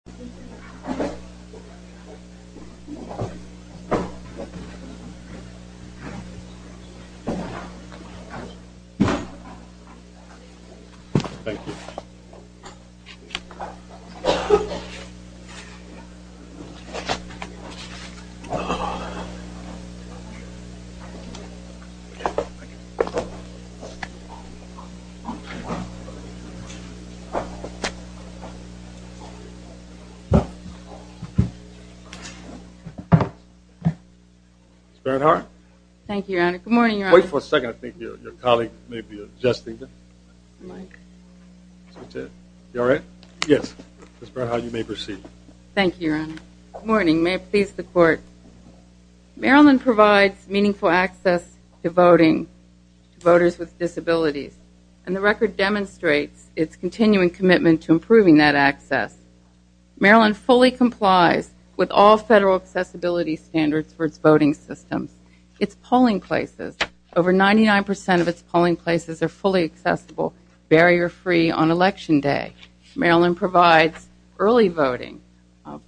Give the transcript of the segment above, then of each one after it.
本当はこの時ている Thank you. ほんとうはこの時ている Good morning. May it please the court. Maryland provides meaningful access to voting to voters with disabilities. And the record demonstrates its continuing commitment to improving that access. Maryland fully complies with all federal accessibility standards for its voting systems. Its polling places, over 99% of its polling places are fully accessible, barrier-free on election day. Maryland provides early voting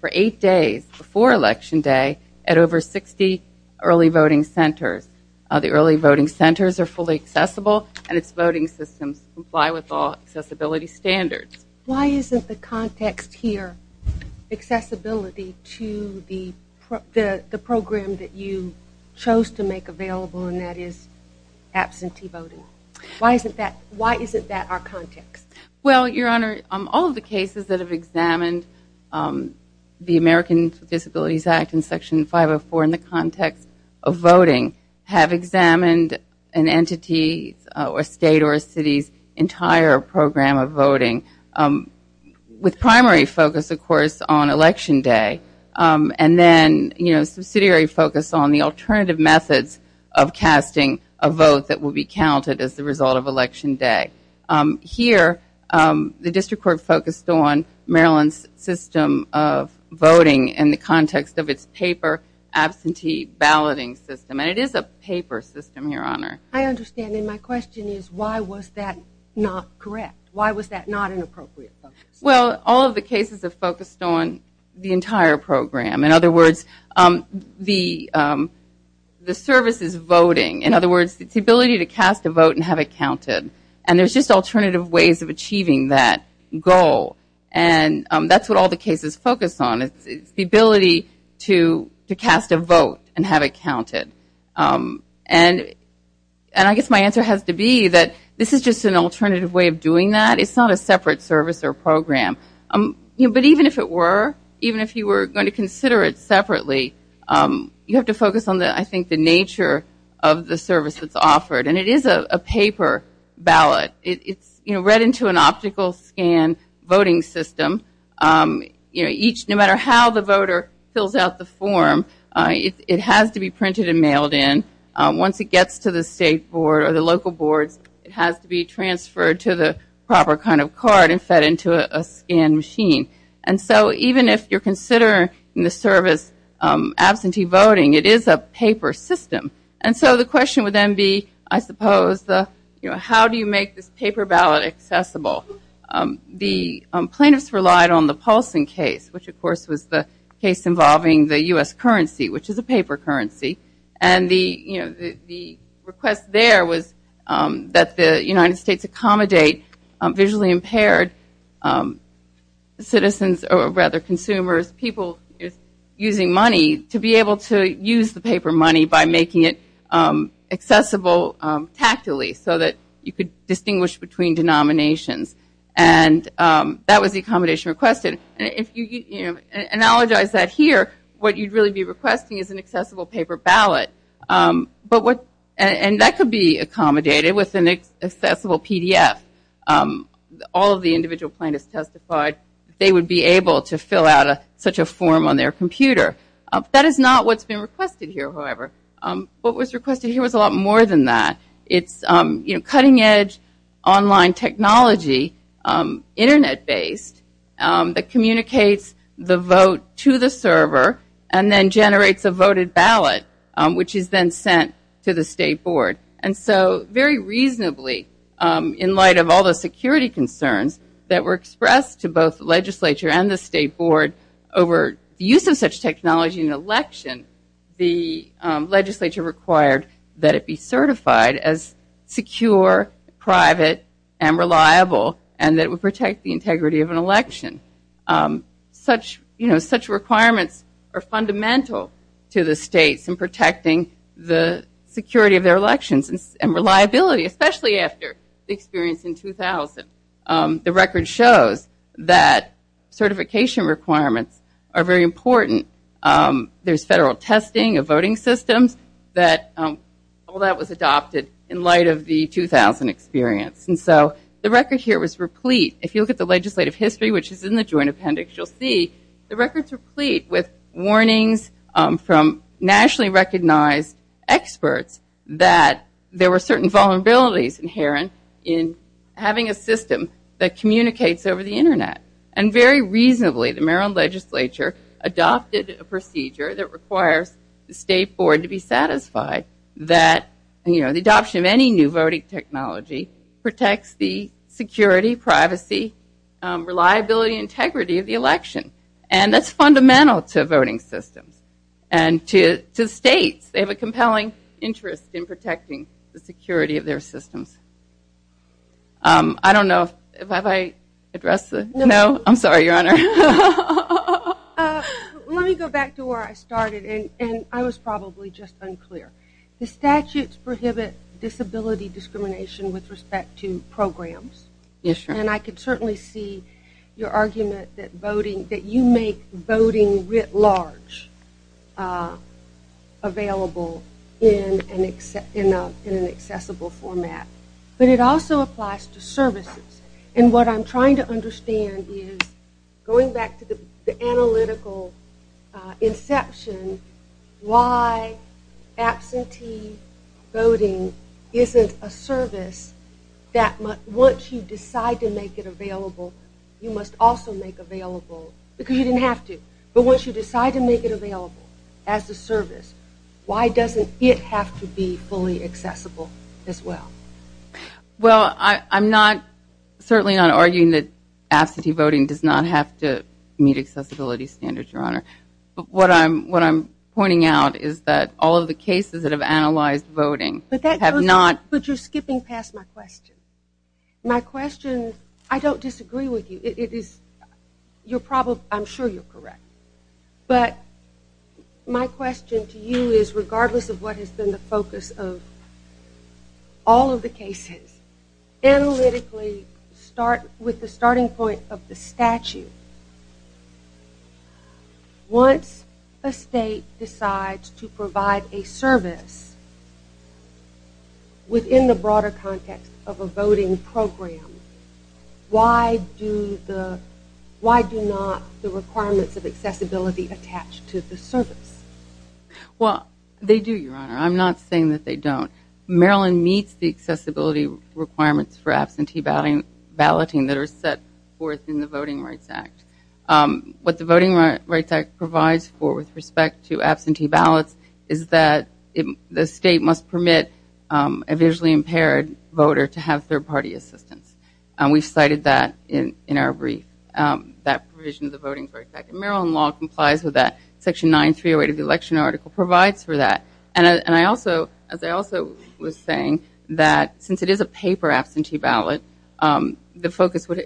for eight days before election day at over 60 early voting centers. The early voting centers are fully accessible, and its voting systems comply with all accessibility standards. Why isn't the context here accessibility to the program that you chose to make available, and that is absentee voting? Why isn't that our context? Well, Your Honor, all of the cases that have examined the American Disabilities Act in Section 504 in the context of voting have examined an entity or state or a city's entire program of voting, with primary focus, of course, on election day. And then subsidiary focus on the alternative methods of casting a vote that will be counted as the result of election day. Here, the district court focused on Maryland's system of voting in the context of its paper absentee balloting system. And it is a paper system, Your Honor. I understand. And my question is, why was that not correct? Why was that not an appropriate focus? Well, all of the cases have focused on the entire program. In other words, the services voting, in other words, it's the ability to cast a vote and have it counted. And there's just alternative ways of achieving that goal. And that's what all the cases focus on. It's the ability to cast a vote and have it counted. And I guess my answer has to be that this is just an alternative way of doing that. It's not a separate service or program. But even if it were, even if you were going to consider it separately, you have to focus on, I think, the nature of the service that's offered. And it is a paper ballot. It's read into an optical scan voting system. No matter how the voter fills out the form, it has to be printed and mailed in. Once it gets to the state board or the local boards, it has to be transferred to the proper kind of card and fed into a scan machine. And so even if you're considering the service absentee voting, it is a paper system. And so the question would then be, I suppose, how do you make this paper ballot accessible? The plaintiffs relied on the Paulson case, which of course was the case involving the US currency, which is a paper currency. And the request there was that the United States accommodate visually impaired citizens, or rather consumers, people using money to be able to use the paper money by making it accessible tactically so that you could distinguish between denominations. And that was the accommodation requested. And if you analogize that here, what you'd really be requesting is an accessible paper ballot. And that could be accommodated with an accessible PDF. All of the individual plaintiffs testified they would be able to fill out such a form on their computer. That is not what's been requested here, however. What was requested here was a lot more than that. It's cutting edge online technology, internet-based, that communicates the vote to the server and then generates a voted ballot, which is then sent to the state board. And so very reasonably, in light of all the security concerns that were expressed to both the legislature and the state board over the use of such technology in an election, the legislature required that it be certified as secure, private, and reliable, and that it would protect the integrity of an election. Such requirements are fundamental to the states in protecting the security of their elections and reliability, especially after the experience in 2000. The record shows that certification requirements are very important. There's federal testing of voting systems, that all that was adopted in light of the 2000 experience. And so the record here was replete. If you look at the legislative history, which is in the joint appendix, you'll see the record's replete with warnings from nationally recognized experts that there were certain vulnerabilities inherent in having a system that communicates over the internet. And very reasonably, the Maryland legislature adopted a procedure that requires the state board to be satisfied that the adoption of any new voting technology protects the security, privacy, reliability, and integrity of the election. And that's fundamental to voting systems. And to states, they have a compelling interest in protecting the security of their systems. I don't know, have I addressed the, no? I'm sorry, Your Honor. Let me go back to where I started, and I was probably just unclear. The statutes prohibit disability discrimination with respect to programs. Yes, Your Honor. And I could certainly see your argument that voting, that you make voting writ large available in an accessible format. But it also applies to services. And what I'm trying to understand is, going back to the analytical inception, why absentee voting isn't a service that once you decide to make it available, you must also make available, because you didn't have to. But once you decide to make it available as a service, why doesn't it have to be fully accessible as well? Well, I'm not, certainly not arguing that absentee voting does not have to meet accessibility standards, Your Honor. But what I'm pointing out is that all of the cases that have analyzed voting have not. But you're skipping past my question. My question, I don't disagree with you. It is, you're probably, I'm sure you're correct. But my question to you is, regardless of what has been the focus of all of the cases, analytically, with the starting point of the statute, once a state decides to provide a service within the broader context of a voting program, why do not the requirements of accessibility attach to the service? Well, they do, Your Honor. I'm not saying that they don't. Maryland meets the accessibility requirements for absentee balloting that are set forth in the Voting Rights Act. What the Voting Rights Act provides for with respect to absentee ballots is that the state must permit a visually impaired voter to have third-party assistance. And we've cited that in our brief, that provision of the Voting Rights Act. And Maryland law complies with that. Section 9308 of the election article provides for that. And I also, as I also was saying, that since it is a paper absentee ballot, the focus would,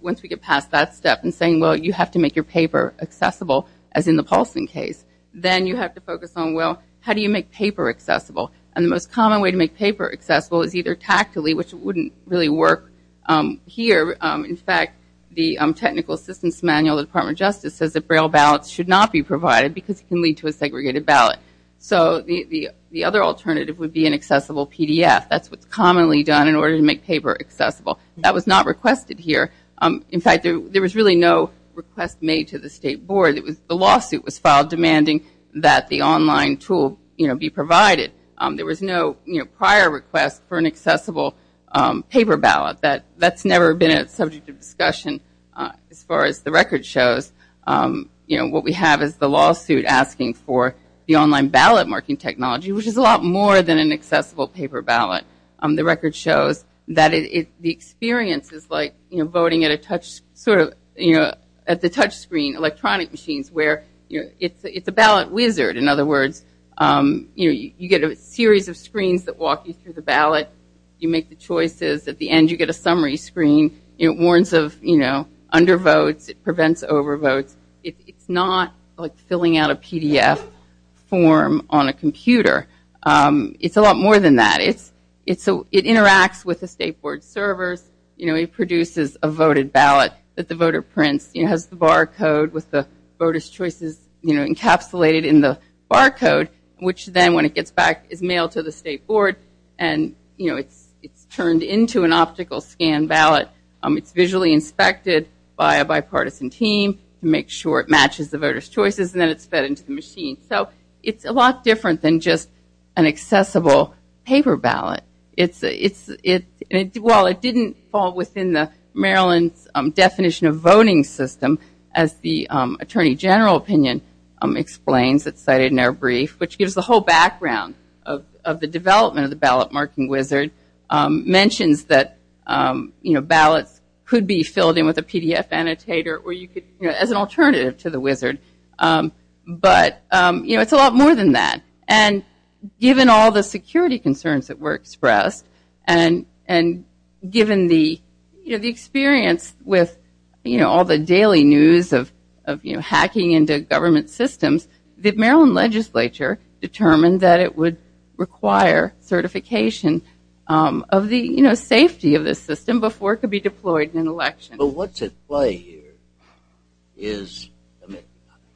once we get past that step and saying, well, you have to make your paper accessible, as in the Paulson case, then you have to focus on, well, how do you make paper accessible? And the most common way to make paper accessible is either tactically, which wouldn't really work here. In fact, the Technical Assistance Manual of the Department of Justice says that braille ballots should not be provided because it can lead to a segregated ballot. So the other alternative would be an accessible PDF. That's what's commonly done in order to make paper accessible. That was not requested here. In fact, there was really no request made to the state board. The lawsuit was filed demanding that the online tool be provided. There was no prior request for an accessible paper ballot. That's never been a subject of discussion as far as the record shows. What we have is the lawsuit asking for the online ballot marking technology, which is a lot more than an accessible paper ballot. The record shows that the experience is like voting at a touch, sort of, at the touchscreen electronic machines where it's a ballot wizard. In other words, you get a series of screens that walk you through the ballot. You make the choices. At the end, you get a summary screen. It warns of undervotes. It prevents overvotes. It's not like filling out a PDF form on a computer. It's a lot more than that. It interacts with the state board servers. It produces a voted ballot that the voter prints. It has the barcode with the voter's choices encapsulated in the barcode, which then when it gets back is mailed to the state board and it's turned into an optical scan ballot. It's visually inspected by a bipartisan team to make sure it matches the voter's choices and then it's fed into the machine. It's a lot different than just an accessible paper ballot. While it didn't fall within the Maryland's definition of voting system as the attorney general opinion explains that's cited in our brief, which gives the whole background of the development of the ballot marking wizard, mentions that ballots could be filled in with a PDF annotator as an alternative to the wizard. But it's a lot more than that. And given all the security concerns that were expressed and given the experience with all the daily news of hacking into government systems, the Maryland legislature determined that it would require certification of the safety of the system before it could be deployed in an election. But what's at play here is,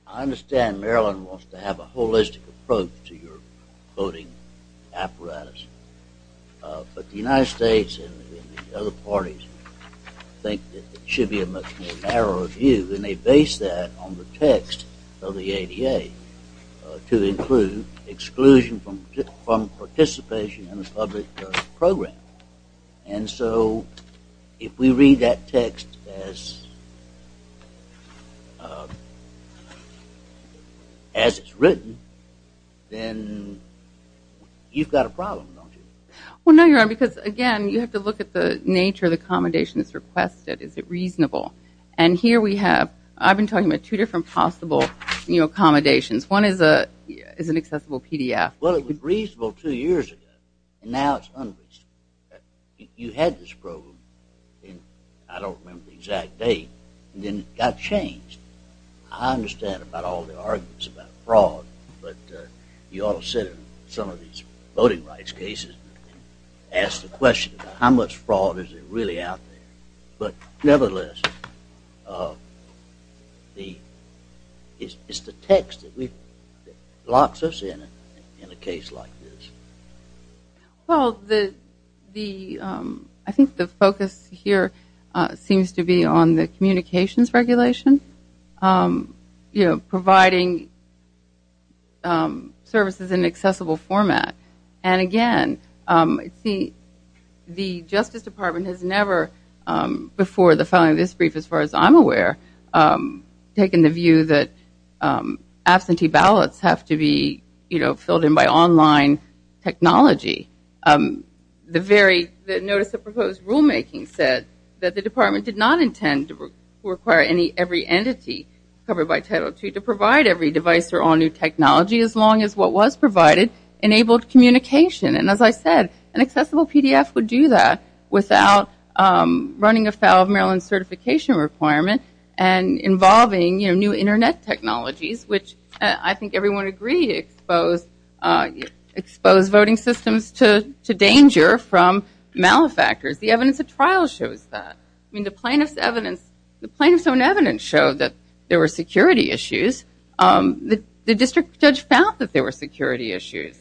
I understand Maryland wants to have a holistic approach to your voting apparatus. But the United States and the other parties think that it should be a much more narrow view and they base that on the text of the ADA to include exclusion from participation in the public program. And so if we read that text as, as it's written, then you've got a problem, don't you? Well, no, Your Honor, because again, you have to look at the nature of the accommodations requested, is it reasonable? And here we have, I've been talking about two different possible accommodations. One is an accessible PDF. Well, it was reasonable two years ago, and now it's unreasonable. You had this program in, I don't remember the exact date, and then it got changed. I understand about all the arguments about fraud, but you all said in some of these voting rights cases, ask the question, how much fraud is it really out there? But nevertheless, it's the text that locks us in, in a case like this. Well, I think the focus here seems to be on the communications regulation, providing services in an accessible format. And again, the Justice Department has never, before the filing of this brief, as far as I'm aware, taken the view that absentee ballots have to be filled in by online technology. The notice of proposed rulemaking said that the department did not intend to require every entity covered by Title II to provide every device or all new technology, as long as what was provided enabled communication. And as I said, an accessible PDF would do that without running afoul of Maryland certification requirement and involving new internet technologies, which I think everyone agreed exposed voting systems to danger from malefactors. The evidence of trial shows that. I mean, the plaintiff's evidence, the plaintiff's own evidence showed that there were security issues. The district judge found that there were security issues.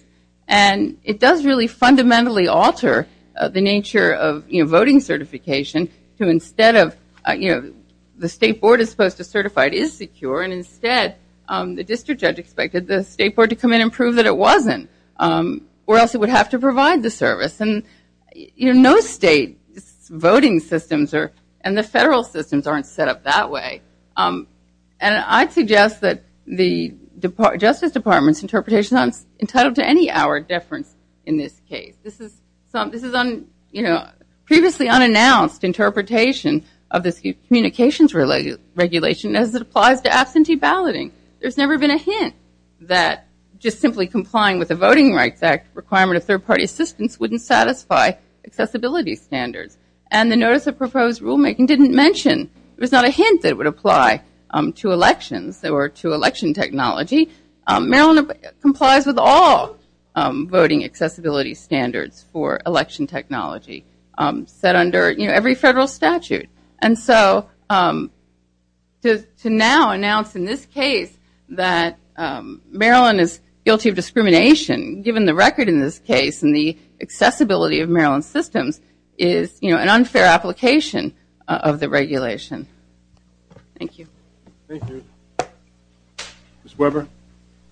And it does really fundamentally alter the nature of voting certification, to instead of, you know, the state board is supposed to certify it is secure. And instead, the district judge expected the state board to come in and prove that it wasn't, or else it would have to provide the service. And, you know, no state voting systems and the federal systems aren't set up that way. And I'd suggest that the Justice Department's interpretation is not entitled to any hour deference in this case. This is, you know, previously unannounced interpretation of this communications regulation as it applies to absentee balloting. There's never been a hint that just simply complying with the Voting Rights Act requirement of third party assistance wouldn't satisfy accessibility standards. And the notice of proposed rulemaking didn't mention, it was not a hint that it would apply to elections or to election technology. Maryland complies with all voting accessibility standards for election technology, set under every federal statute. And so to now announce in this case that Maryland is guilty of discrimination, given the record in this case and the accessibility of Maryland's systems is, you know, an unfair application of the regulation. Thank you. Thank you. Ms. Weber. Thank you.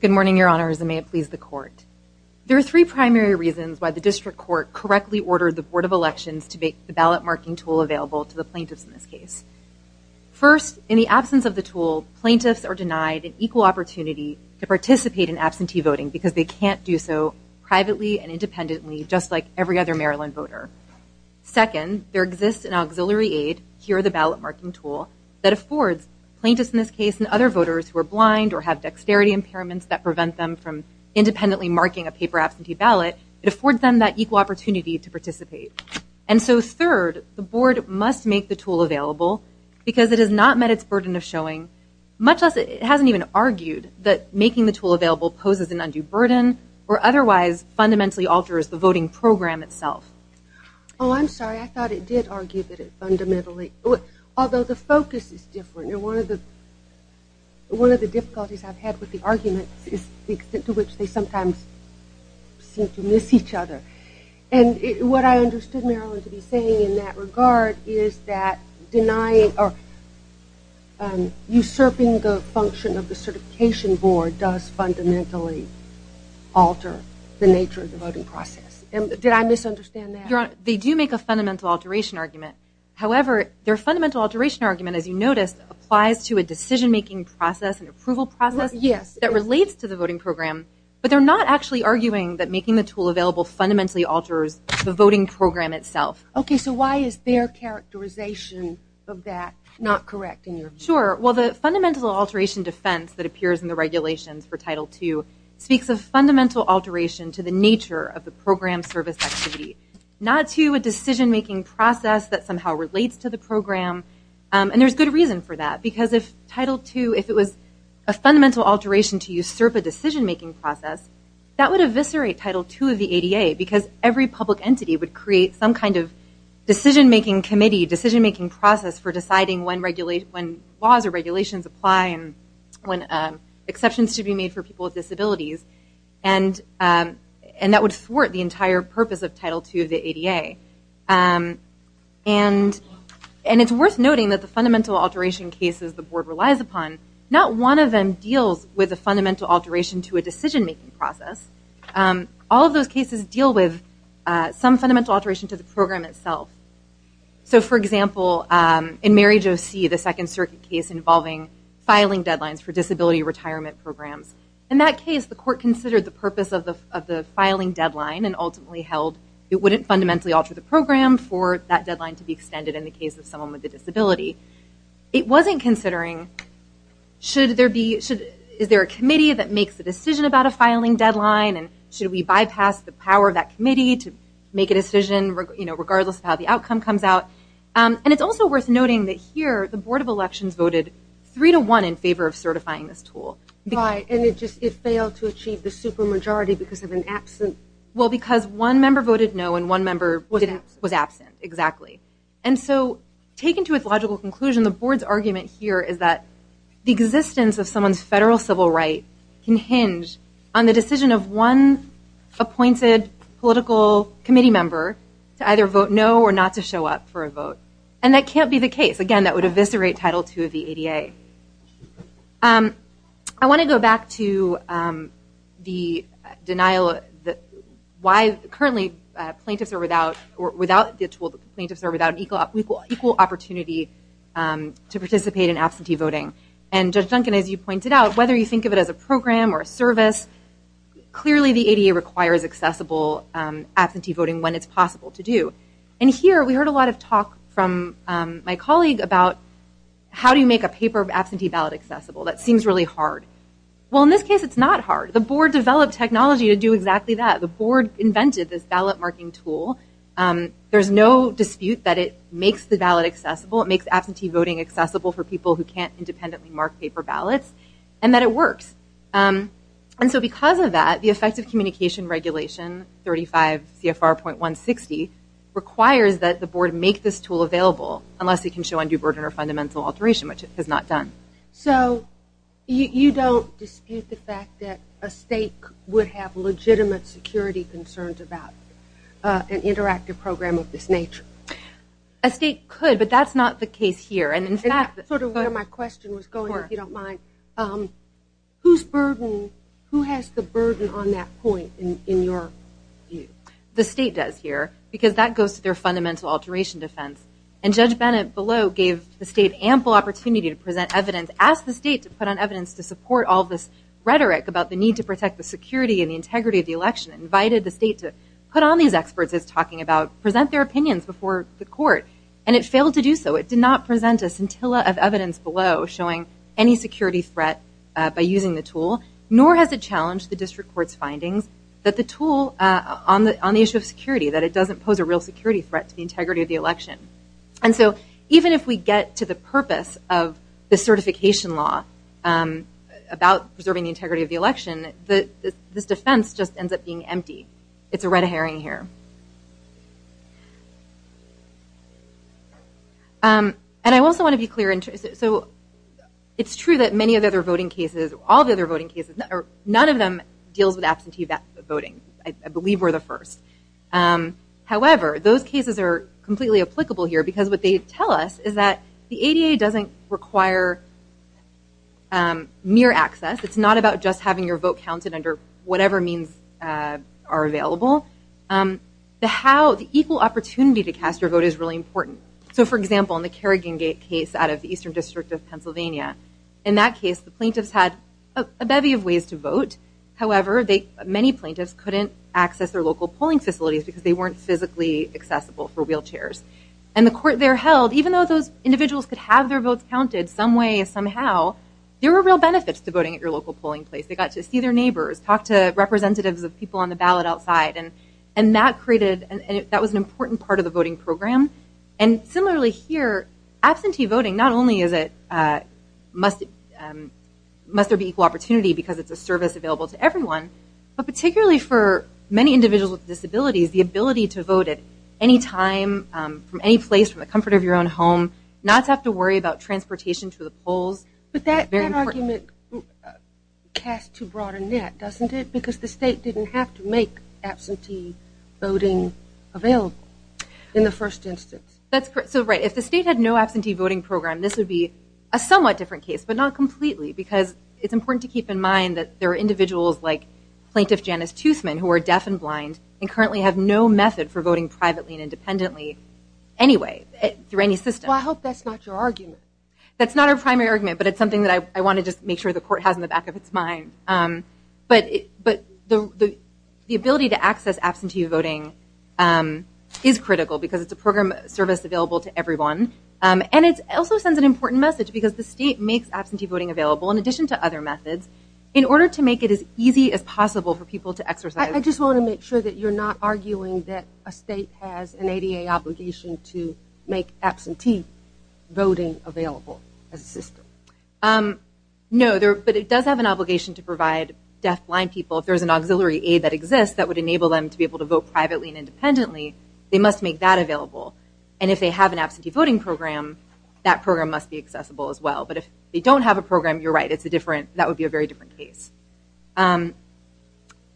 Good morning, Your Honors, and may it please the court. There are three primary reasons why the district court correctly ordered the Board of Elections to make the ballot marking tool available to the plaintiffs in this case. First, in the absence of the tool, plaintiffs are denied an equal opportunity to participate in absentee voting because they can't do so privately and independently, just like every other Maryland voter. Second, there exists an auxiliary aid, here the ballot marking tool, that affords plaintiffs in this case and other voters who are blind or have dexterity impairments that prevent them from independently marking a paper absentee ballot, it affords them that equal opportunity to participate. And so third, the board must make the tool available because it has not met its burden of showing, much less it hasn't even argued that making the tool available poses an undue burden or otherwise fundamentally alters the voting program itself. Oh, I'm sorry. I thought it did argue that it fundamentally, although the focus is different. And one of the difficulties I've had with the arguments is the extent to which they sometimes seem to miss each other. And what I understood Maryland to be saying in that regard is that denying or usurping the function of the certification board does fundamentally alter the nature of the voting process. And did I misunderstand that? They do make a fundamental alteration argument. However, their fundamental alteration argument, as you noticed, applies to a decision-making process and approval process that relates to the voting program, but they're not actually arguing that making the tool available fundamentally alters the voting program itself. Okay, so why is their characterization of that not correct in your view? Sure, well, the fundamental alteration defense that appears in the regulations for Title II speaks of fundamental alteration to the nature of the program service activity, not to a decision-making process that somehow relates to the program. And there's good reason for that, because if Title II, if it was a fundamental alteration to usurp a decision-making process, that would eviscerate Title II of the ADA because every public entity would create some kind of decision-making committee, decision-making process for deciding when laws or regulations apply and when exceptions should be made for people with disabilities. And that would thwart the entire purpose of Title II of the ADA. And it's worth noting that the fundamental alteration cases the board relies upon, not one of them deals with a fundamental alteration to a decision-making process. All of those cases deal with some fundamental alteration to the program itself. So for example, in Mary Jo See, the Second Circuit case involving filing deadlines for disability retirement programs. In that case, the court considered the purpose of the filing deadline and ultimately held it wouldn't fundamentally alter the program for that deadline to be extended in the case of someone with a disability. It wasn't considering, is there a committee that makes the decision about a filing deadline and should we bypass the power of that committee to make a decision regardless of how the outcome comes out? And it's also worth noting that here, the Board of Elections voted three to one in favor of certifying this tool. Because- Right, and it just, it failed to achieve the super majority because of an absent. Well, because one member voted no and one member was absent, exactly. And so taken to its logical conclusion, the board's argument here is that the existence of someone's federal civil right can hinge on the decision of one appointed political committee member to either vote no or not to show up for a vote. And that can't be the case. Again, that would eviscerate Title II of the ADA. I want to go back to the denial that, why currently plaintiffs are without, or without the tool, plaintiffs are without an equal opportunity to participate in absentee voting. And Judge Duncan, as you pointed out, whether you think of it as a program or a service, clearly the ADA requires accessible absentee voting when it's possible to do. And here, we heard a lot of talk from my colleague about how do you make a paper absentee ballot accessible? That seems really hard. Well, in this case, it's not hard. The board developed technology to do exactly that. The board invented this ballot marking tool. There's no dispute that it makes the ballot accessible. It makes absentee voting accessible for people who can't independently mark paper ballots. And that it works. And so because of that, the Effective Communication Regulation 35 CFR.160 requires that the board make this tool available unless it can show undue burden or fundamental alteration, which it has not done. So you don't dispute the fact that a state would have legitimate security concerns about an interactive program of this nature? A state could, but that's not the case here. And in fact, sort of where my question was going, if you don't mind, whose burden, who has the burden on that point in your view? The state does here, because that goes to their fundamental alteration defense. And Judge Bennett below gave the state ample opportunity to present evidence, asked the state to put on evidence to support all this rhetoric about the need to protect the security and the integrity of the election. Invited the state to put on these experts it's talking about, present their opinions before the court. And it failed to do so. It did not present a scintilla of evidence below showing any security threat by using the tool, nor has it challenged the district court's findings that the tool on the issue of security, that it doesn't pose a real security threat to the integrity of the election. And so even if we get to the purpose of the certification law about preserving the integrity of the election, this defense just ends up being empty. It's a red herring here. And I also want to be clear. So it's true that many of the other voting cases, all the other voting cases, none of them deals with absentee voting. I believe we're the first. However, those cases are completely applicable here because what they tell us is that the ADA doesn't require mere access. It's not about just having your vote counted under whatever means are available. The how, the equal opportunity to cast your vote is really important. So for example, in the Carrigan Gate case out of the Eastern District of Pennsylvania, in that case, the plaintiffs had a bevy of ways to vote. However, many plaintiffs couldn't access their local polling facilities because they weren't physically accessible for wheelchairs. And the court there held, even though those individuals could have their votes counted some way, somehow, there were real benefits to voting at your local polling place. They got to see their neighbors, talk to representatives of people on the ballot outside, and that created, that was an important part of the voting program. And similarly here, absentee voting, not only is it, must there be equal opportunity because it's a service available to everyone, but particularly for many individuals with disabilities, the ability to vote at any time, from any place, from the comfort of your own home, not to have to worry about transportation to the polls. But that argument casts too broad a net, doesn't it? Because the state didn't have to make That's correct, so right, if the state had no absentee voting program, this would be a somewhat different case, but not completely, because it's important to keep in mind that there are individuals like Plaintiff Janice Toothman, who are deaf and blind, and currently have no method for voting privately and independently anyway, through any system. Well, I hope that's not your argument. That's not our primary argument, but it's something that I wanna just make sure the court has in the back of its mind. But the ability to access absentee voting is critical, because it's a program service available to everyone. And it also sends an important message, because the state makes absentee voting available, in addition to other methods, in order to make it as easy as possible for people to exercise. I just wanna make sure that you're not arguing that a state has an ADA obligation to make absentee voting available as a system. No, but it does have an obligation to provide deaf blind people, if there's an auxiliary aid that exists, that would enable them to be able to vote privately and independently. They must make that available. And if they have an absentee voting program, that program must be accessible as well. But if they don't have a program, you're right, it's a different, that would be a very different case.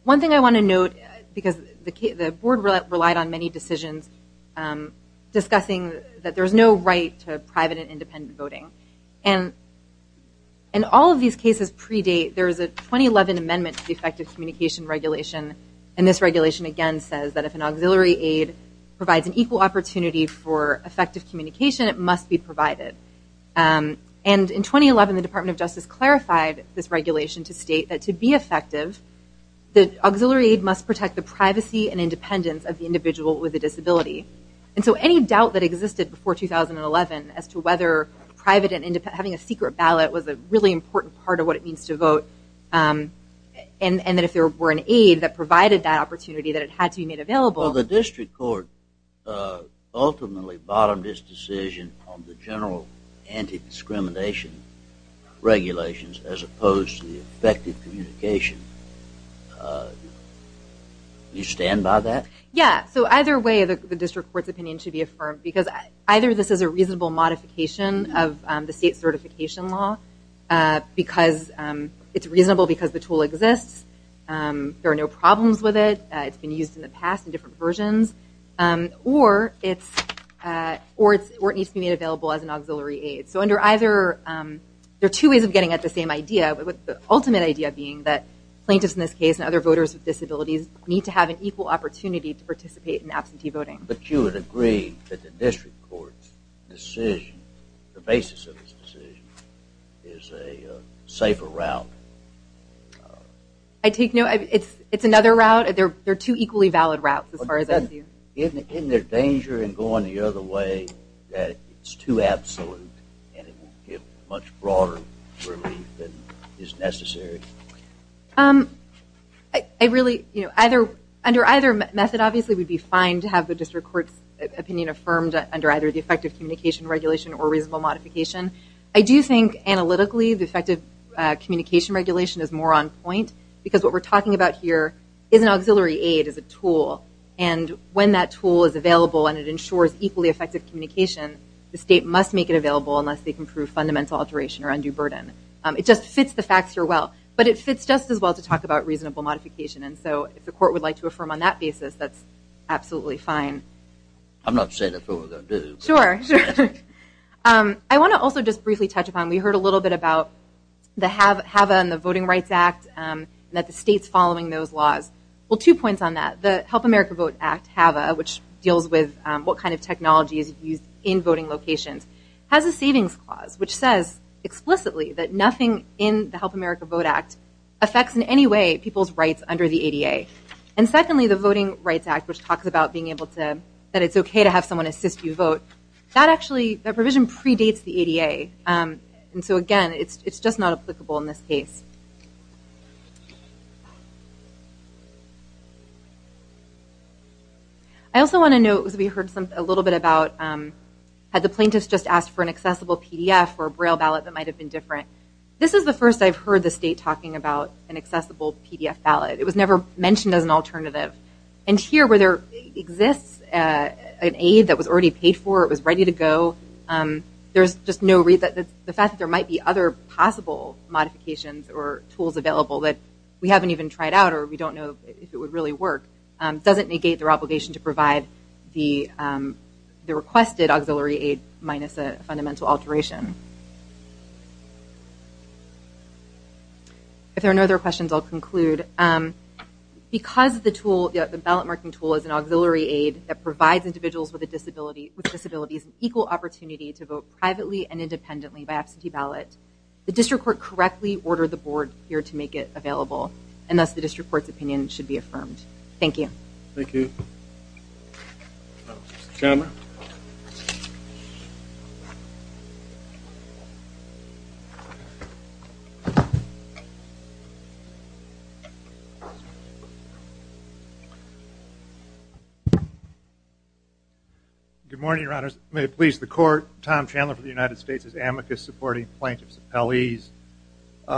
One thing I wanna note, because the board relied on many decisions, discussing that there's no right to private and independent voting. And all of these cases predate, there's a 2011 amendment to the effective communication regulation. And this regulation, again, says that if an auxiliary aid provides an equal opportunity for effective communication, it must be provided. And in 2011, the Department of Justice clarified this regulation to state that to be effective, the auxiliary aid must protect the privacy and independence of the individual with a disability. And so any doubt that existed before 2011 as to whether private and independent, having a secret ballot was a really important part of what it means to vote. And that if there were an aid that provided that opportunity, that it had to be made available. Well, the district court ultimately bottomed this decision on the general anti-discrimination regulations as opposed to the effective communication. You stand by that? Yeah, so either way, the district court's opinion should be affirmed because either this is a reasonable modification of the state certification law, it's reasonable because the tool exists, there are no problems with it, it's been used in the past in different versions, or it needs to be made available as an auxiliary aid. So under either, there are two ways of getting at the same idea, but with the ultimate idea being that plaintiffs in this case and other voters with disabilities need to have an equal opportunity to participate in absentee voting. But you would agree that the district court's decision, the basis of this decision, is a safer route? I take note, it's another route, they're two equally valid routes as far as I see. Isn't there danger in going the other way that it's too absolute and it will give much broader relief than is necessary? Under either method, obviously, we'd be fine to have the district court's opinion affirmed under either the effective communication regulation or reasonable modification. I do think analytically, the effective communication regulation is more on point because what we're talking about here is an auxiliary aid, is a tool. And when that tool is available and it ensures equally effective communication, the state must make it available unless they can prove fundamental alteration or undue burden. It just fits the facts here well. But it fits just as well to talk about reasonable modification. And so if the court would like to affirm on that basis, that's absolutely fine. I'm not saying affirm is undue. Sure. Sure. I want to also just briefly touch upon, we heard a little bit about the HAVA and the Voting Rights Act, and that the state's following those laws. Well, two points on that. The Help America Vote Act, HAVA, which deals with what kind of technology is used in voting locations, has a savings clause which says explicitly that nothing in the Help America Vote Act affects in any way people's rights under the ADA. And secondly, the Voting Rights Act, which talks about being able to, that it's okay to have someone assist you vote, that actually, that provision predates the ADA. And so again, it's just not applicable in this case. Okay. I also want to note, because we heard a little bit about, had the plaintiffs just asked for an accessible PDF or Braille ballot that might have been different. This is the first I've heard the state talking about an accessible PDF ballot. It was never mentioned as an alternative. And here, where there exists an aid that was already paid for, it was ready to go, there's just no reason, the fact that there might be other possible modifications or tools available that we haven't even tried out or we don't know if it would really work, doesn't negate their obligation to provide the requested auxiliary aid minus a fundamental alteration. If there are no other questions, I'll conclude. Because the ballot marking tool is an auxiliary aid that provides individuals with disabilities an equal opportunity to vote privately and independently by absentee ballot, the district court correctly ordered the board here to make it available. And thus, the district court's opinion should be affirmed. Thank you. Thank you. Mr. Chandler. Good morning, your honors. May it please the court, Tom Chandler for the United States as amicus supporting plaintiff's appellees.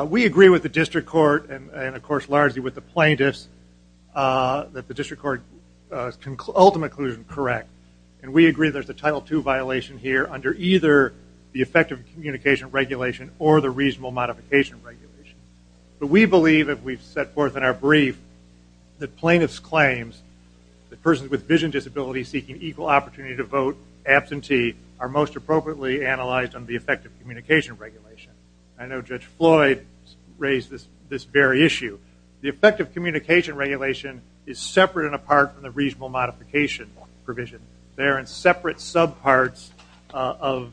We agree with the district court and of course largely with the plaintiffs that the district court's ultimate conclusion is correct. And we agree there's a Title II violation here under either the effective communication regulation or the reasonable modification regulation. But we believe, if we've set forth in our brief, that plaintiff's claims, that persons with vision disabilities seeking equal opportunity to vote absentee are most appropriately analyzed under the effective communication regulation. I know Judge Floyd raised this very issue. The effective communication regulation is separate and apart from the reasonable modification provision. They're in separate subparts of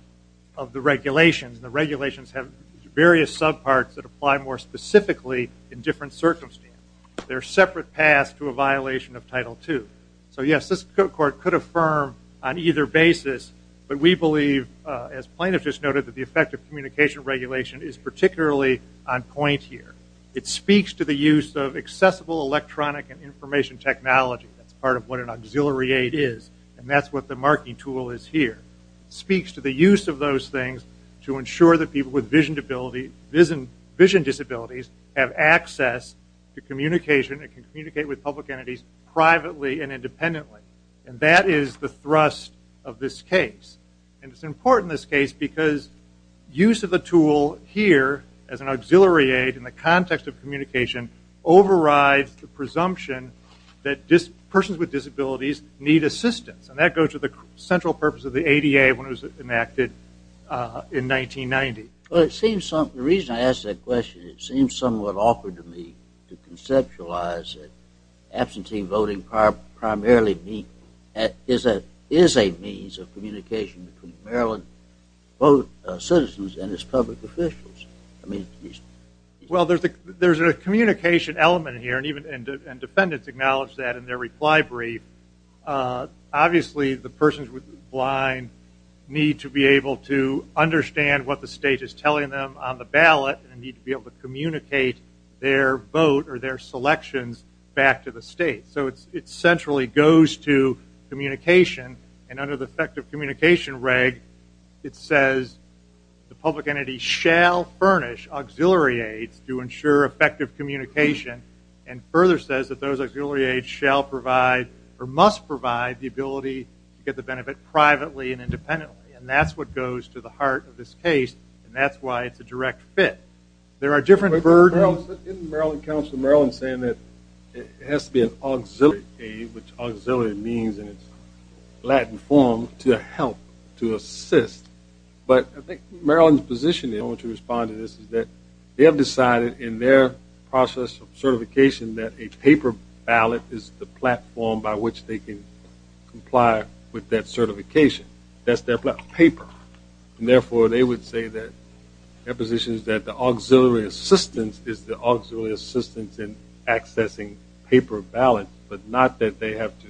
the regulations. The regulations have various subparts that apply more specifically in different circumstances. They're separate paths to a violation of Title II. So yes, this court could affirm on either basis, but we believe, as plaintiff just noted, that the effective communication regulation is particularly on point here. It speaks to the use of accessible electronic and information technology. That's part of what an auxiliary aid is. And that's what the marking tool is here. Speaks to the use of those things to ensure that people with vision disabilities have access to communication and can communicate with public entities privately and independently. And that is the thrust of this case. And it's important, this case, because use of the tool here as an auxiliary aid in the context of communication overrides the presumption that persons with disabilities need assistance. And that goes to the central purpose of the ADA when it was enacted in 1990. Well, it seems, the reason I ask that question, it seems somewhat awkward to me to conceptualize that absentee voting primarily is a means of communication between Maryland citizens and its public officials. Well, there's a communication element here, and defendants acknowledge that in their reply brief. Obviously, the persons with the blind need to be able to understand what the state is telling them on the ballot and need to be able to communicate their vote or their selections back to the state. It centrally goes to communication, and under the effective communication reg, it says the public entity shall furnish auxiliary aids to ensure effective communication, and further says that those auxiliary aids shall provide, or must provide, the ability to get the benefit privately and independently. And that's what goes to the heart of this case, and that's why it's a direct fit. There are different versions. Isn't Maryland Council of Maryland saying it has to be an auxiliary aid, which auxiliary means in its Latin form, to help, to assist, but I think Maryland's position in which we respond to this is that they have decided in their process of certification that a paper ballot is the platform by which they can comply with that certification. That's their paper, and therefore they would say that their position is that the auxiliary assistance is the auxiliary assistance in accessing paper ballots, but not that they have to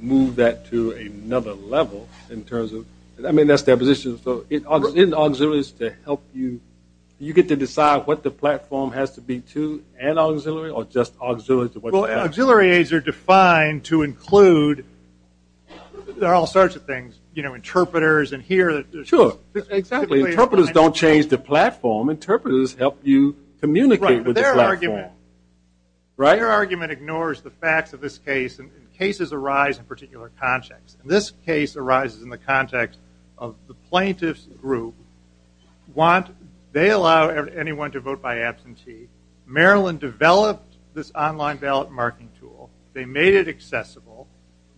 move that to another level in terms of, I mean, that's their position, so in auxiliaries to help you, you get to decide what the platform has to be to an auxiliary, or just auxiliary to what the platform has to be. Well, auxiliary aids are defined to include, there are all sorts of things, you know, interpreters, and here. Sure, exactly, interpreters don't change the platform. Interpreters help you communicate with the platform. Right, but their argument ignores the facts of this case, and cases arise in particular contexts. This case arises in the context of the plaintiff's group. They allow anyone to vote by absentee. Maryland developed this online ballot marking tool. They made it accessible.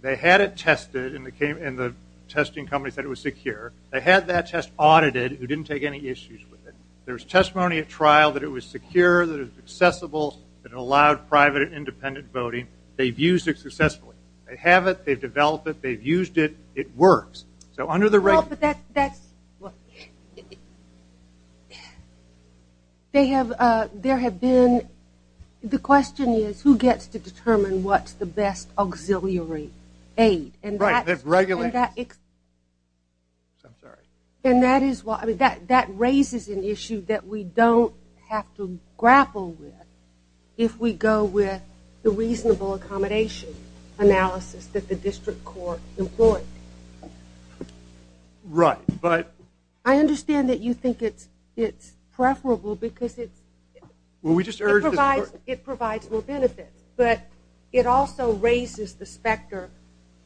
They had it tested, and the testing company said it was secure. They had that test audited. It didn't take any issues with it. There was testimony at trial that it was secure, that it was accessible, that it allowed private and independent voting. They've used it successfully. They have it, they've developed it, they've used it, it works. So under the regulations. Well, but that's, they have, there have been, the question is, who gets to determine what's the best auxiliary aid? Right, they've regulated it. I'm sorry. And that is why, that raises an issue that we don't have to grapple with if we go with the reasonable accommodation analysis that the district court employed. Right, but. I understand that you think it's preferable because it's. Well, we just urged the court. It provides more benefits, but it also raises the specter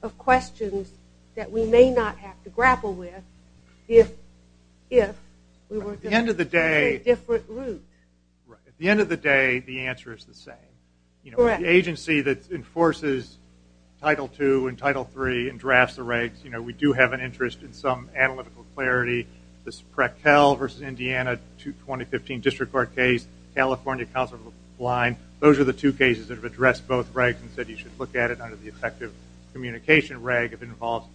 of questions that we may not have to grapple with if we were to take different routes. Right, at the end of the day, the answer is the same. You know, the agency that enforces Title II and Title III and drafts the regs, you know, we do have an interest in some analytical clarity. This Prekel versus Indiana 2015 district court case, California Council of the Blind, those are the two cases that have addressed both regs and said you should look at it under the effective communication reg if it involves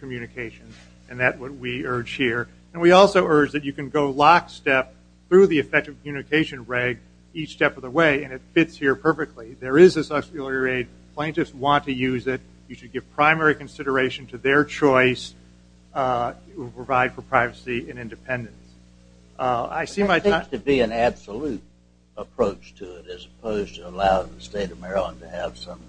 communication, and that's what we urge here. And we also urge that you can go lockstep through the effective communication reg each step of the way, and it fits here perfectly. There is this auxiliary rate. Plaintiffs want to use it. You should give primary consideration to their choice. It will provide for privacy and independence. I see my time. There needs to be an absolute approach to it as opposed to allowing the state of Maryland to have some.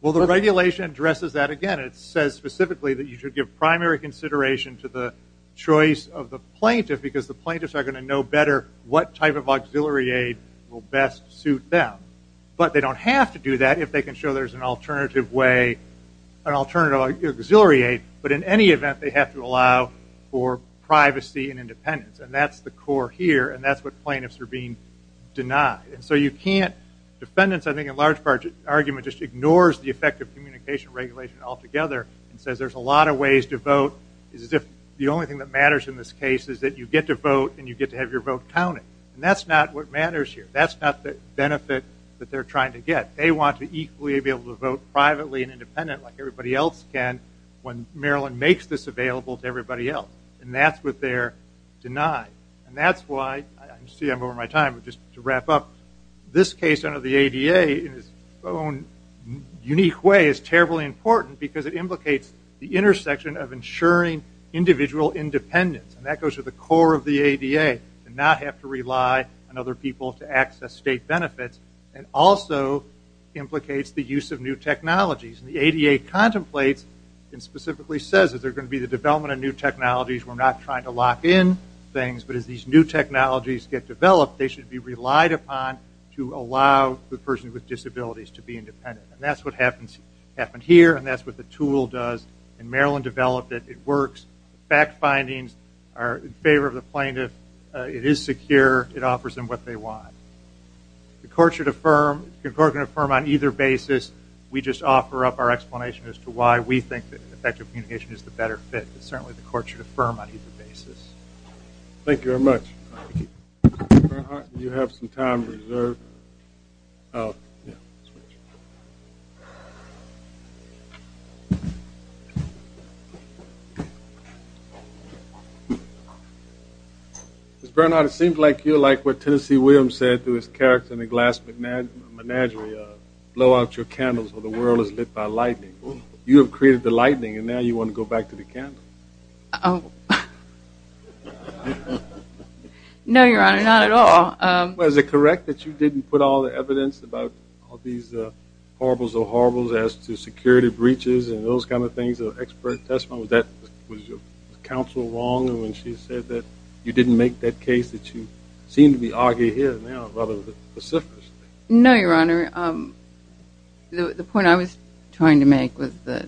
Well, the regulation addresses that again. It says specifically that you should give primary consideration to the choice of the plaintiff because the plaintiffs are gonna know better what type of auxiliary aid will best suit them, but they don't have to do that if they can show there's an alternative way, an alternative auxiliary aid, but in any event, they have to allow for privacy and independence, and that's the core here, and that's what plaintiffs are being denied. And so you can't, defendants, I think, in large part, argument just ignores the effect of communication regulation altogether and says there's a lot of ways to vote. It's as if the only thing that matters in this case is that you get to vote and you get to have your vote counted, and that's not what matters here. That's not the benefit that they're trying to get. They want to equally be able to vote privately and independently like everybody else can when Maryland makes this available to everybody else, and that's what they're denied, and that's why, I see I'm over my time, but just to wrap up, this case under the ADA in its own unique way is terribly important because it implicates the intersection of ensuring individual independence, and that goes to the core of the ADA, to not have to rely on other people to access state benefits, and also implicates the use of new technologies, and the ADA contemplates and specifically says that there's gonna be the development of new technologies. We're not trying to lock in things, but as these new technologies get developed, they should be relied upon to allow the person with disabilities to be independent, and that's what happened here, and that's what the tool does, and Maryland developed it. It works. Fact findings are in favor of the plaintiff. It is secure. It offers them what they want. The court should affirm, the court can affirm on either basis. We just offer up our explanation as to why we think that effective communication is the better fit, but certainly the court should affirm on either basis. Thank you very much. Thank you. Mr. Bernhardt, you have some time reserved. Ms. Bernhardt, it seems like you like what Tennessee Williams said through his character in The Glass Menagerie, blow out your candles or the world is lit by lightning. and now you wanna go back to the candle. No, Your Honor, not at all. Well, is it correct that you didn't put all the evidence about all these horribles or horribles as to security breaches and those kinds of things or expert testimony? Was that, was your counsel wrong when she said that you didn't make that case that you seem to be arguing here now rather pacifist? No, Your Honor. The point I was trying to make was that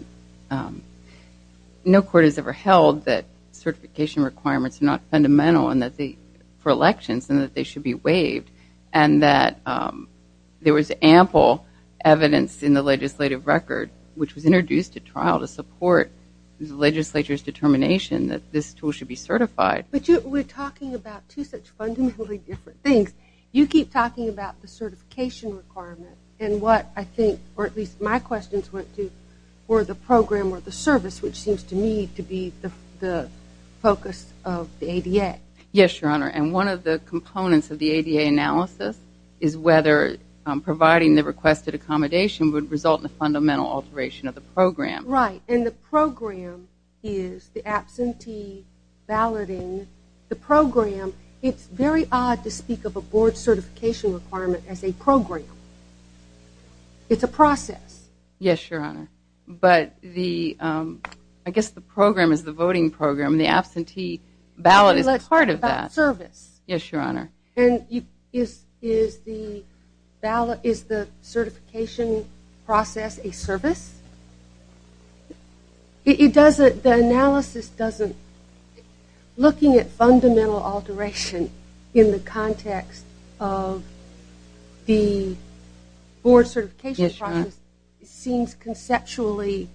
no court has ever held that certification requirements are not fundamental for elections and that they should be waived and that there was ample evidence in the legislative record which was introduced to trial to support the legislature's determination that this tool should be certified. But you were talking about two such fundamentally different things. You keep talking about the certification requirement and what I think, or at least my questions went to were the program or the service which seems to me to be the focus of the ADA. Yes, Your Honor. And one of the components of the ADA analysis is whether providing the requested accommodation would result in a fundamental alteration of the program. Right, and the program is the absentee balloting. The program, it's very odd to speak of a board certification requirement as a program. It's a process. Yes, Your Honor. But the, I guess the program is the voting program. The absentee ballot is a part of that. Service. Yes, Your Honor. And is the certification process a service? It doesn't, the analysis doesn't, looking at fundamental alteration in the context of the board certification process seems conceptually,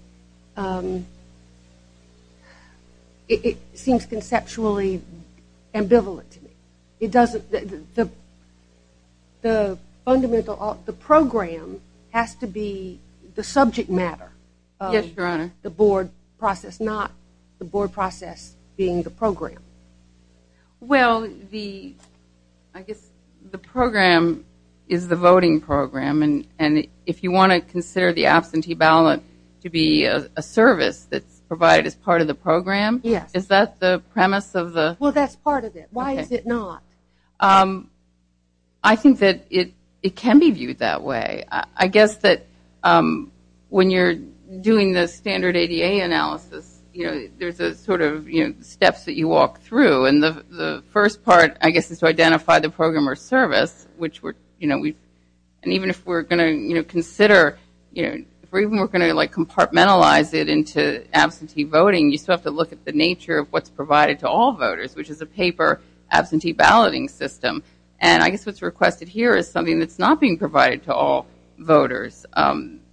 it seems conceptually ambivalent to me. It doesn't, the fundamental, the program has to be the subject matter. Yes, Your Honor. The board process, not the board process being the program. Well, the, I guess the program is the voting program and if you want to consider the absentee ballot to be a service that's provided as part of the program, is that the premise of the? Well, that's part of it. Why is it not? I think that it can be viewed that way. I guess that when you're doing the standard ADA analysis, there's a sort of steps that you walk through and the first part, I guess, is to identify the program or service, which we're, you know, and even if we're going to, you know, consider, you know, even if we're going to like compartmentalize it into absentee voting, you still have to look at the nature of what's provided to all voters, which is a paper absentee balloting system. And I guess what's requested here is something that's not being provided to all voters.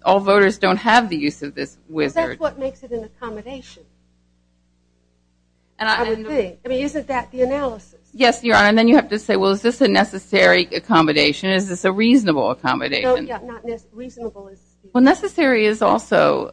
All voters don't have the use of this wizard. That's what makes it an accommodation, I would think. I mean, isn't that the analysis? Yes, Your Honor, and then you have to say, well, is this a necessary accommodation? Is this a reasonable accommodation? No, yeah, not, reasonable is. Well, necessary is also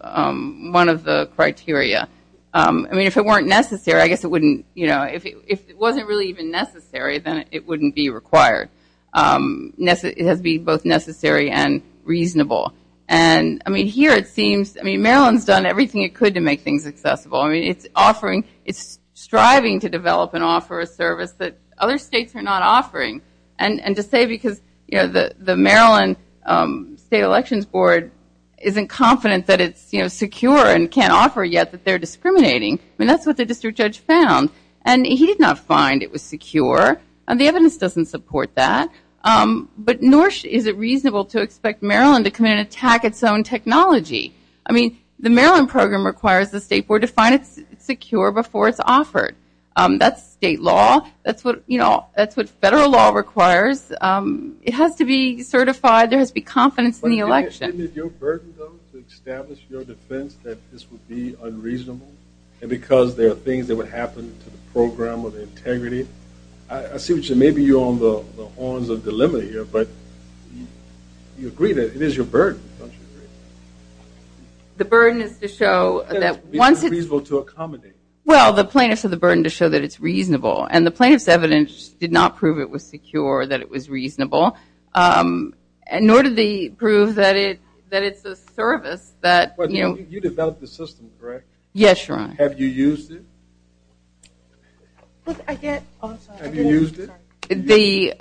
one of the criteria. I mean, if it weren't necessary, I guess it wouldn't, you know, if it wasn't really even necessary, then it wouldn't be required. It has to be both necessary and reasonable. And I mean, here it seems, I mean, Maryland's done everything it could I mean, it's offering, it's striving to develop and offer a service that other states are not offering. And to say, because the Maryland State Elections Board isn't confident that it's secure and can offer yet that they're discriminating, I mean, that's what the district judge found. And he did not find it was secure. And the evidence doesn't support that. But nor is it reasonable to expect Maryland to come in and attack its own technology. I mean, the Maryland program requires the state board to find it secure before it's offered. That's state law. That's what, you know, that's what federal law requires. It has to be certified. There has to be confidence in the election. But isn't it your burden though, to establish your defense that this would be unreasonable? And because there are things that would happen to the program or the integrity. I see what you're, maybe you're on the horns of dilemma here but you agree that it is your burden, don't you agree? The burden is to show that once it's- It's unreasonable to accommodate. Well, the plaintiff said the burden to show that it's reasonable. And the plaintiff's evidence did not prove it was secure, that it was reasonable. And nor did they prove that it's a service that, you know- You developed the system, correct? Yes, Your Honor. Have you used it? Look, I can't, oh, I'm sorry. Have you used it?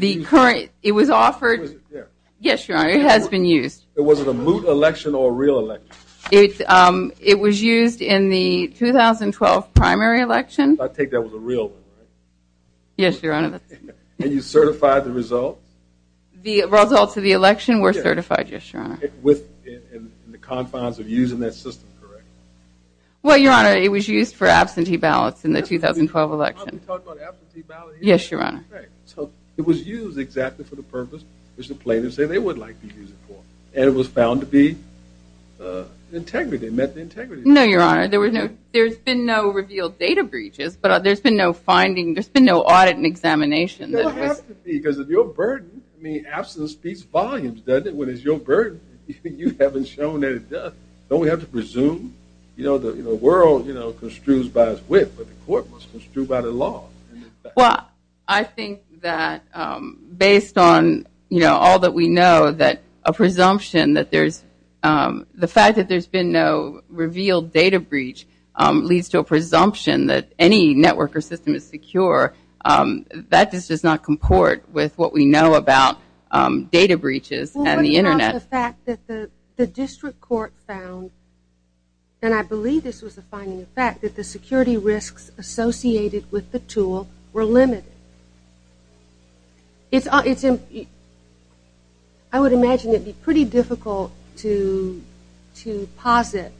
The current, it was offered- It wasn't there. Yes, Your Honor, it has been used. It wasn't a moot election or a real election? It was used in the 2012 primary election. I take that was a real one, right? Yes, Your Honor. And you certified the results? The results of the election were certified, yes, Your Honor. Within the confines of using that system, correct? Well, Your Honor, it was used for absentee ballots in the 2012 election. I'm talking about absentee ballots- Yes, Your Honor. So it was used exactly for the purpose which the plaintiff said they would like to use it for. And it was found to be integrity, met the integrity. No, Your Honor, there was no, there's been no revealed data breaches, but there's been no finding, there's been no audit and examination. There'll have to be, because of your burden. I mean, absence beats volumes, doesn't it? When it's your burden, you haven't shown that it does. Don't we have to presume? You know, the world, you know, construes by its width, but the court must construe by the law. Well, I think that based on, you know, all that we know that a presumption that there's, the fact that there's been no revealed data breach leads to a presumption that any network or system is secure. That just does not comport with what we know about data breaches and the internet. Well, what about the fact that the district court found, and I believe this was a finding of fact, that the security risks associated with the tool were limited. It's, I would imagine it'd be pretty difficult to posit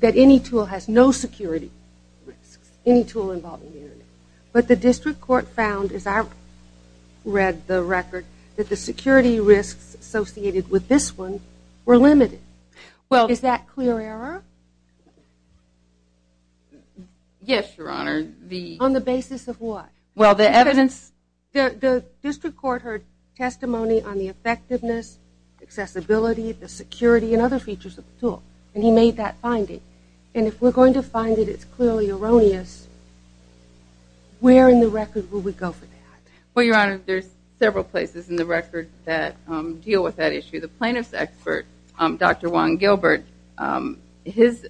that any tool has no security risks, any tool involved in the internet. But the district court found, as I read the record, that the security risks associated with this one were limited. Well, is that clear error? Yes, Your Honor. On the basis of what? Well, the evidence. The district court heard testimony on the effectiveness, accessibility, the security, and other features of the tool. And he made that finding. And if we're going to find that it's clearly erroneous, where in the record will we go for that? Well, Your Honor, there's several places in the record that deal with that issue. The plaintiff's expert, Dr. Juan Gilbert, his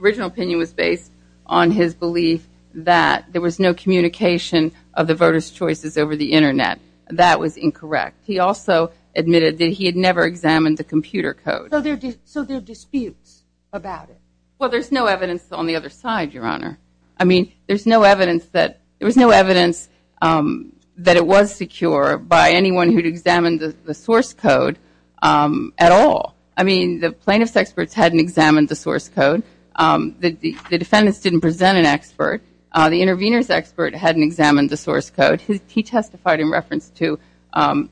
original opinion was based on his belief that there was no communication of the voters' choices over the internet. That was incorrect. He also admitted that he had never examined the computer code. So there are disputes about it? Well, there's no evidence on the other side, Your Honor. I mean, there's no evidence that, there was no evidence that it was secure by anyone who'd examined the source code at all. I mean, the plaintiff's experts hadn't examined the source code. The defendants didn't present an expert. The intervener's expert hadn't examined the source code. He testified in reference to,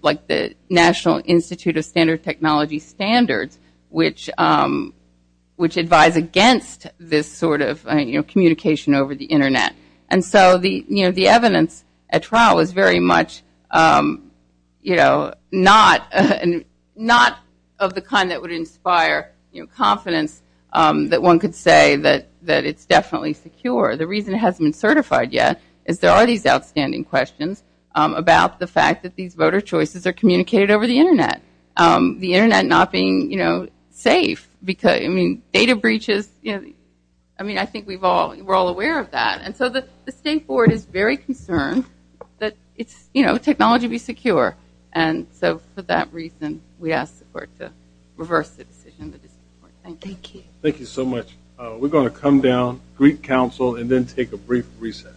like, the National Institute of Standard Technology Standards, which advise against this sort of communication over the internet. And so the evidence at trial was very much, you know, not of the kind that would inspire confidence that one could say that it's definitely secure. The reason it hasn't been certified yet is there are these outstanding questions about the fact that these voter choices are communicated over the internet. The internet not being, you know, safe, because, I mean, data breaches, you know, I mean, I think we're all aware of that. And so the State Board is very concerned that it's, you know, technology be secure. And so for that reason, we ask the Court to reverse the decision and thank you. Thank you so much. We're gonna come down, Greek Council, and then take a brief recess.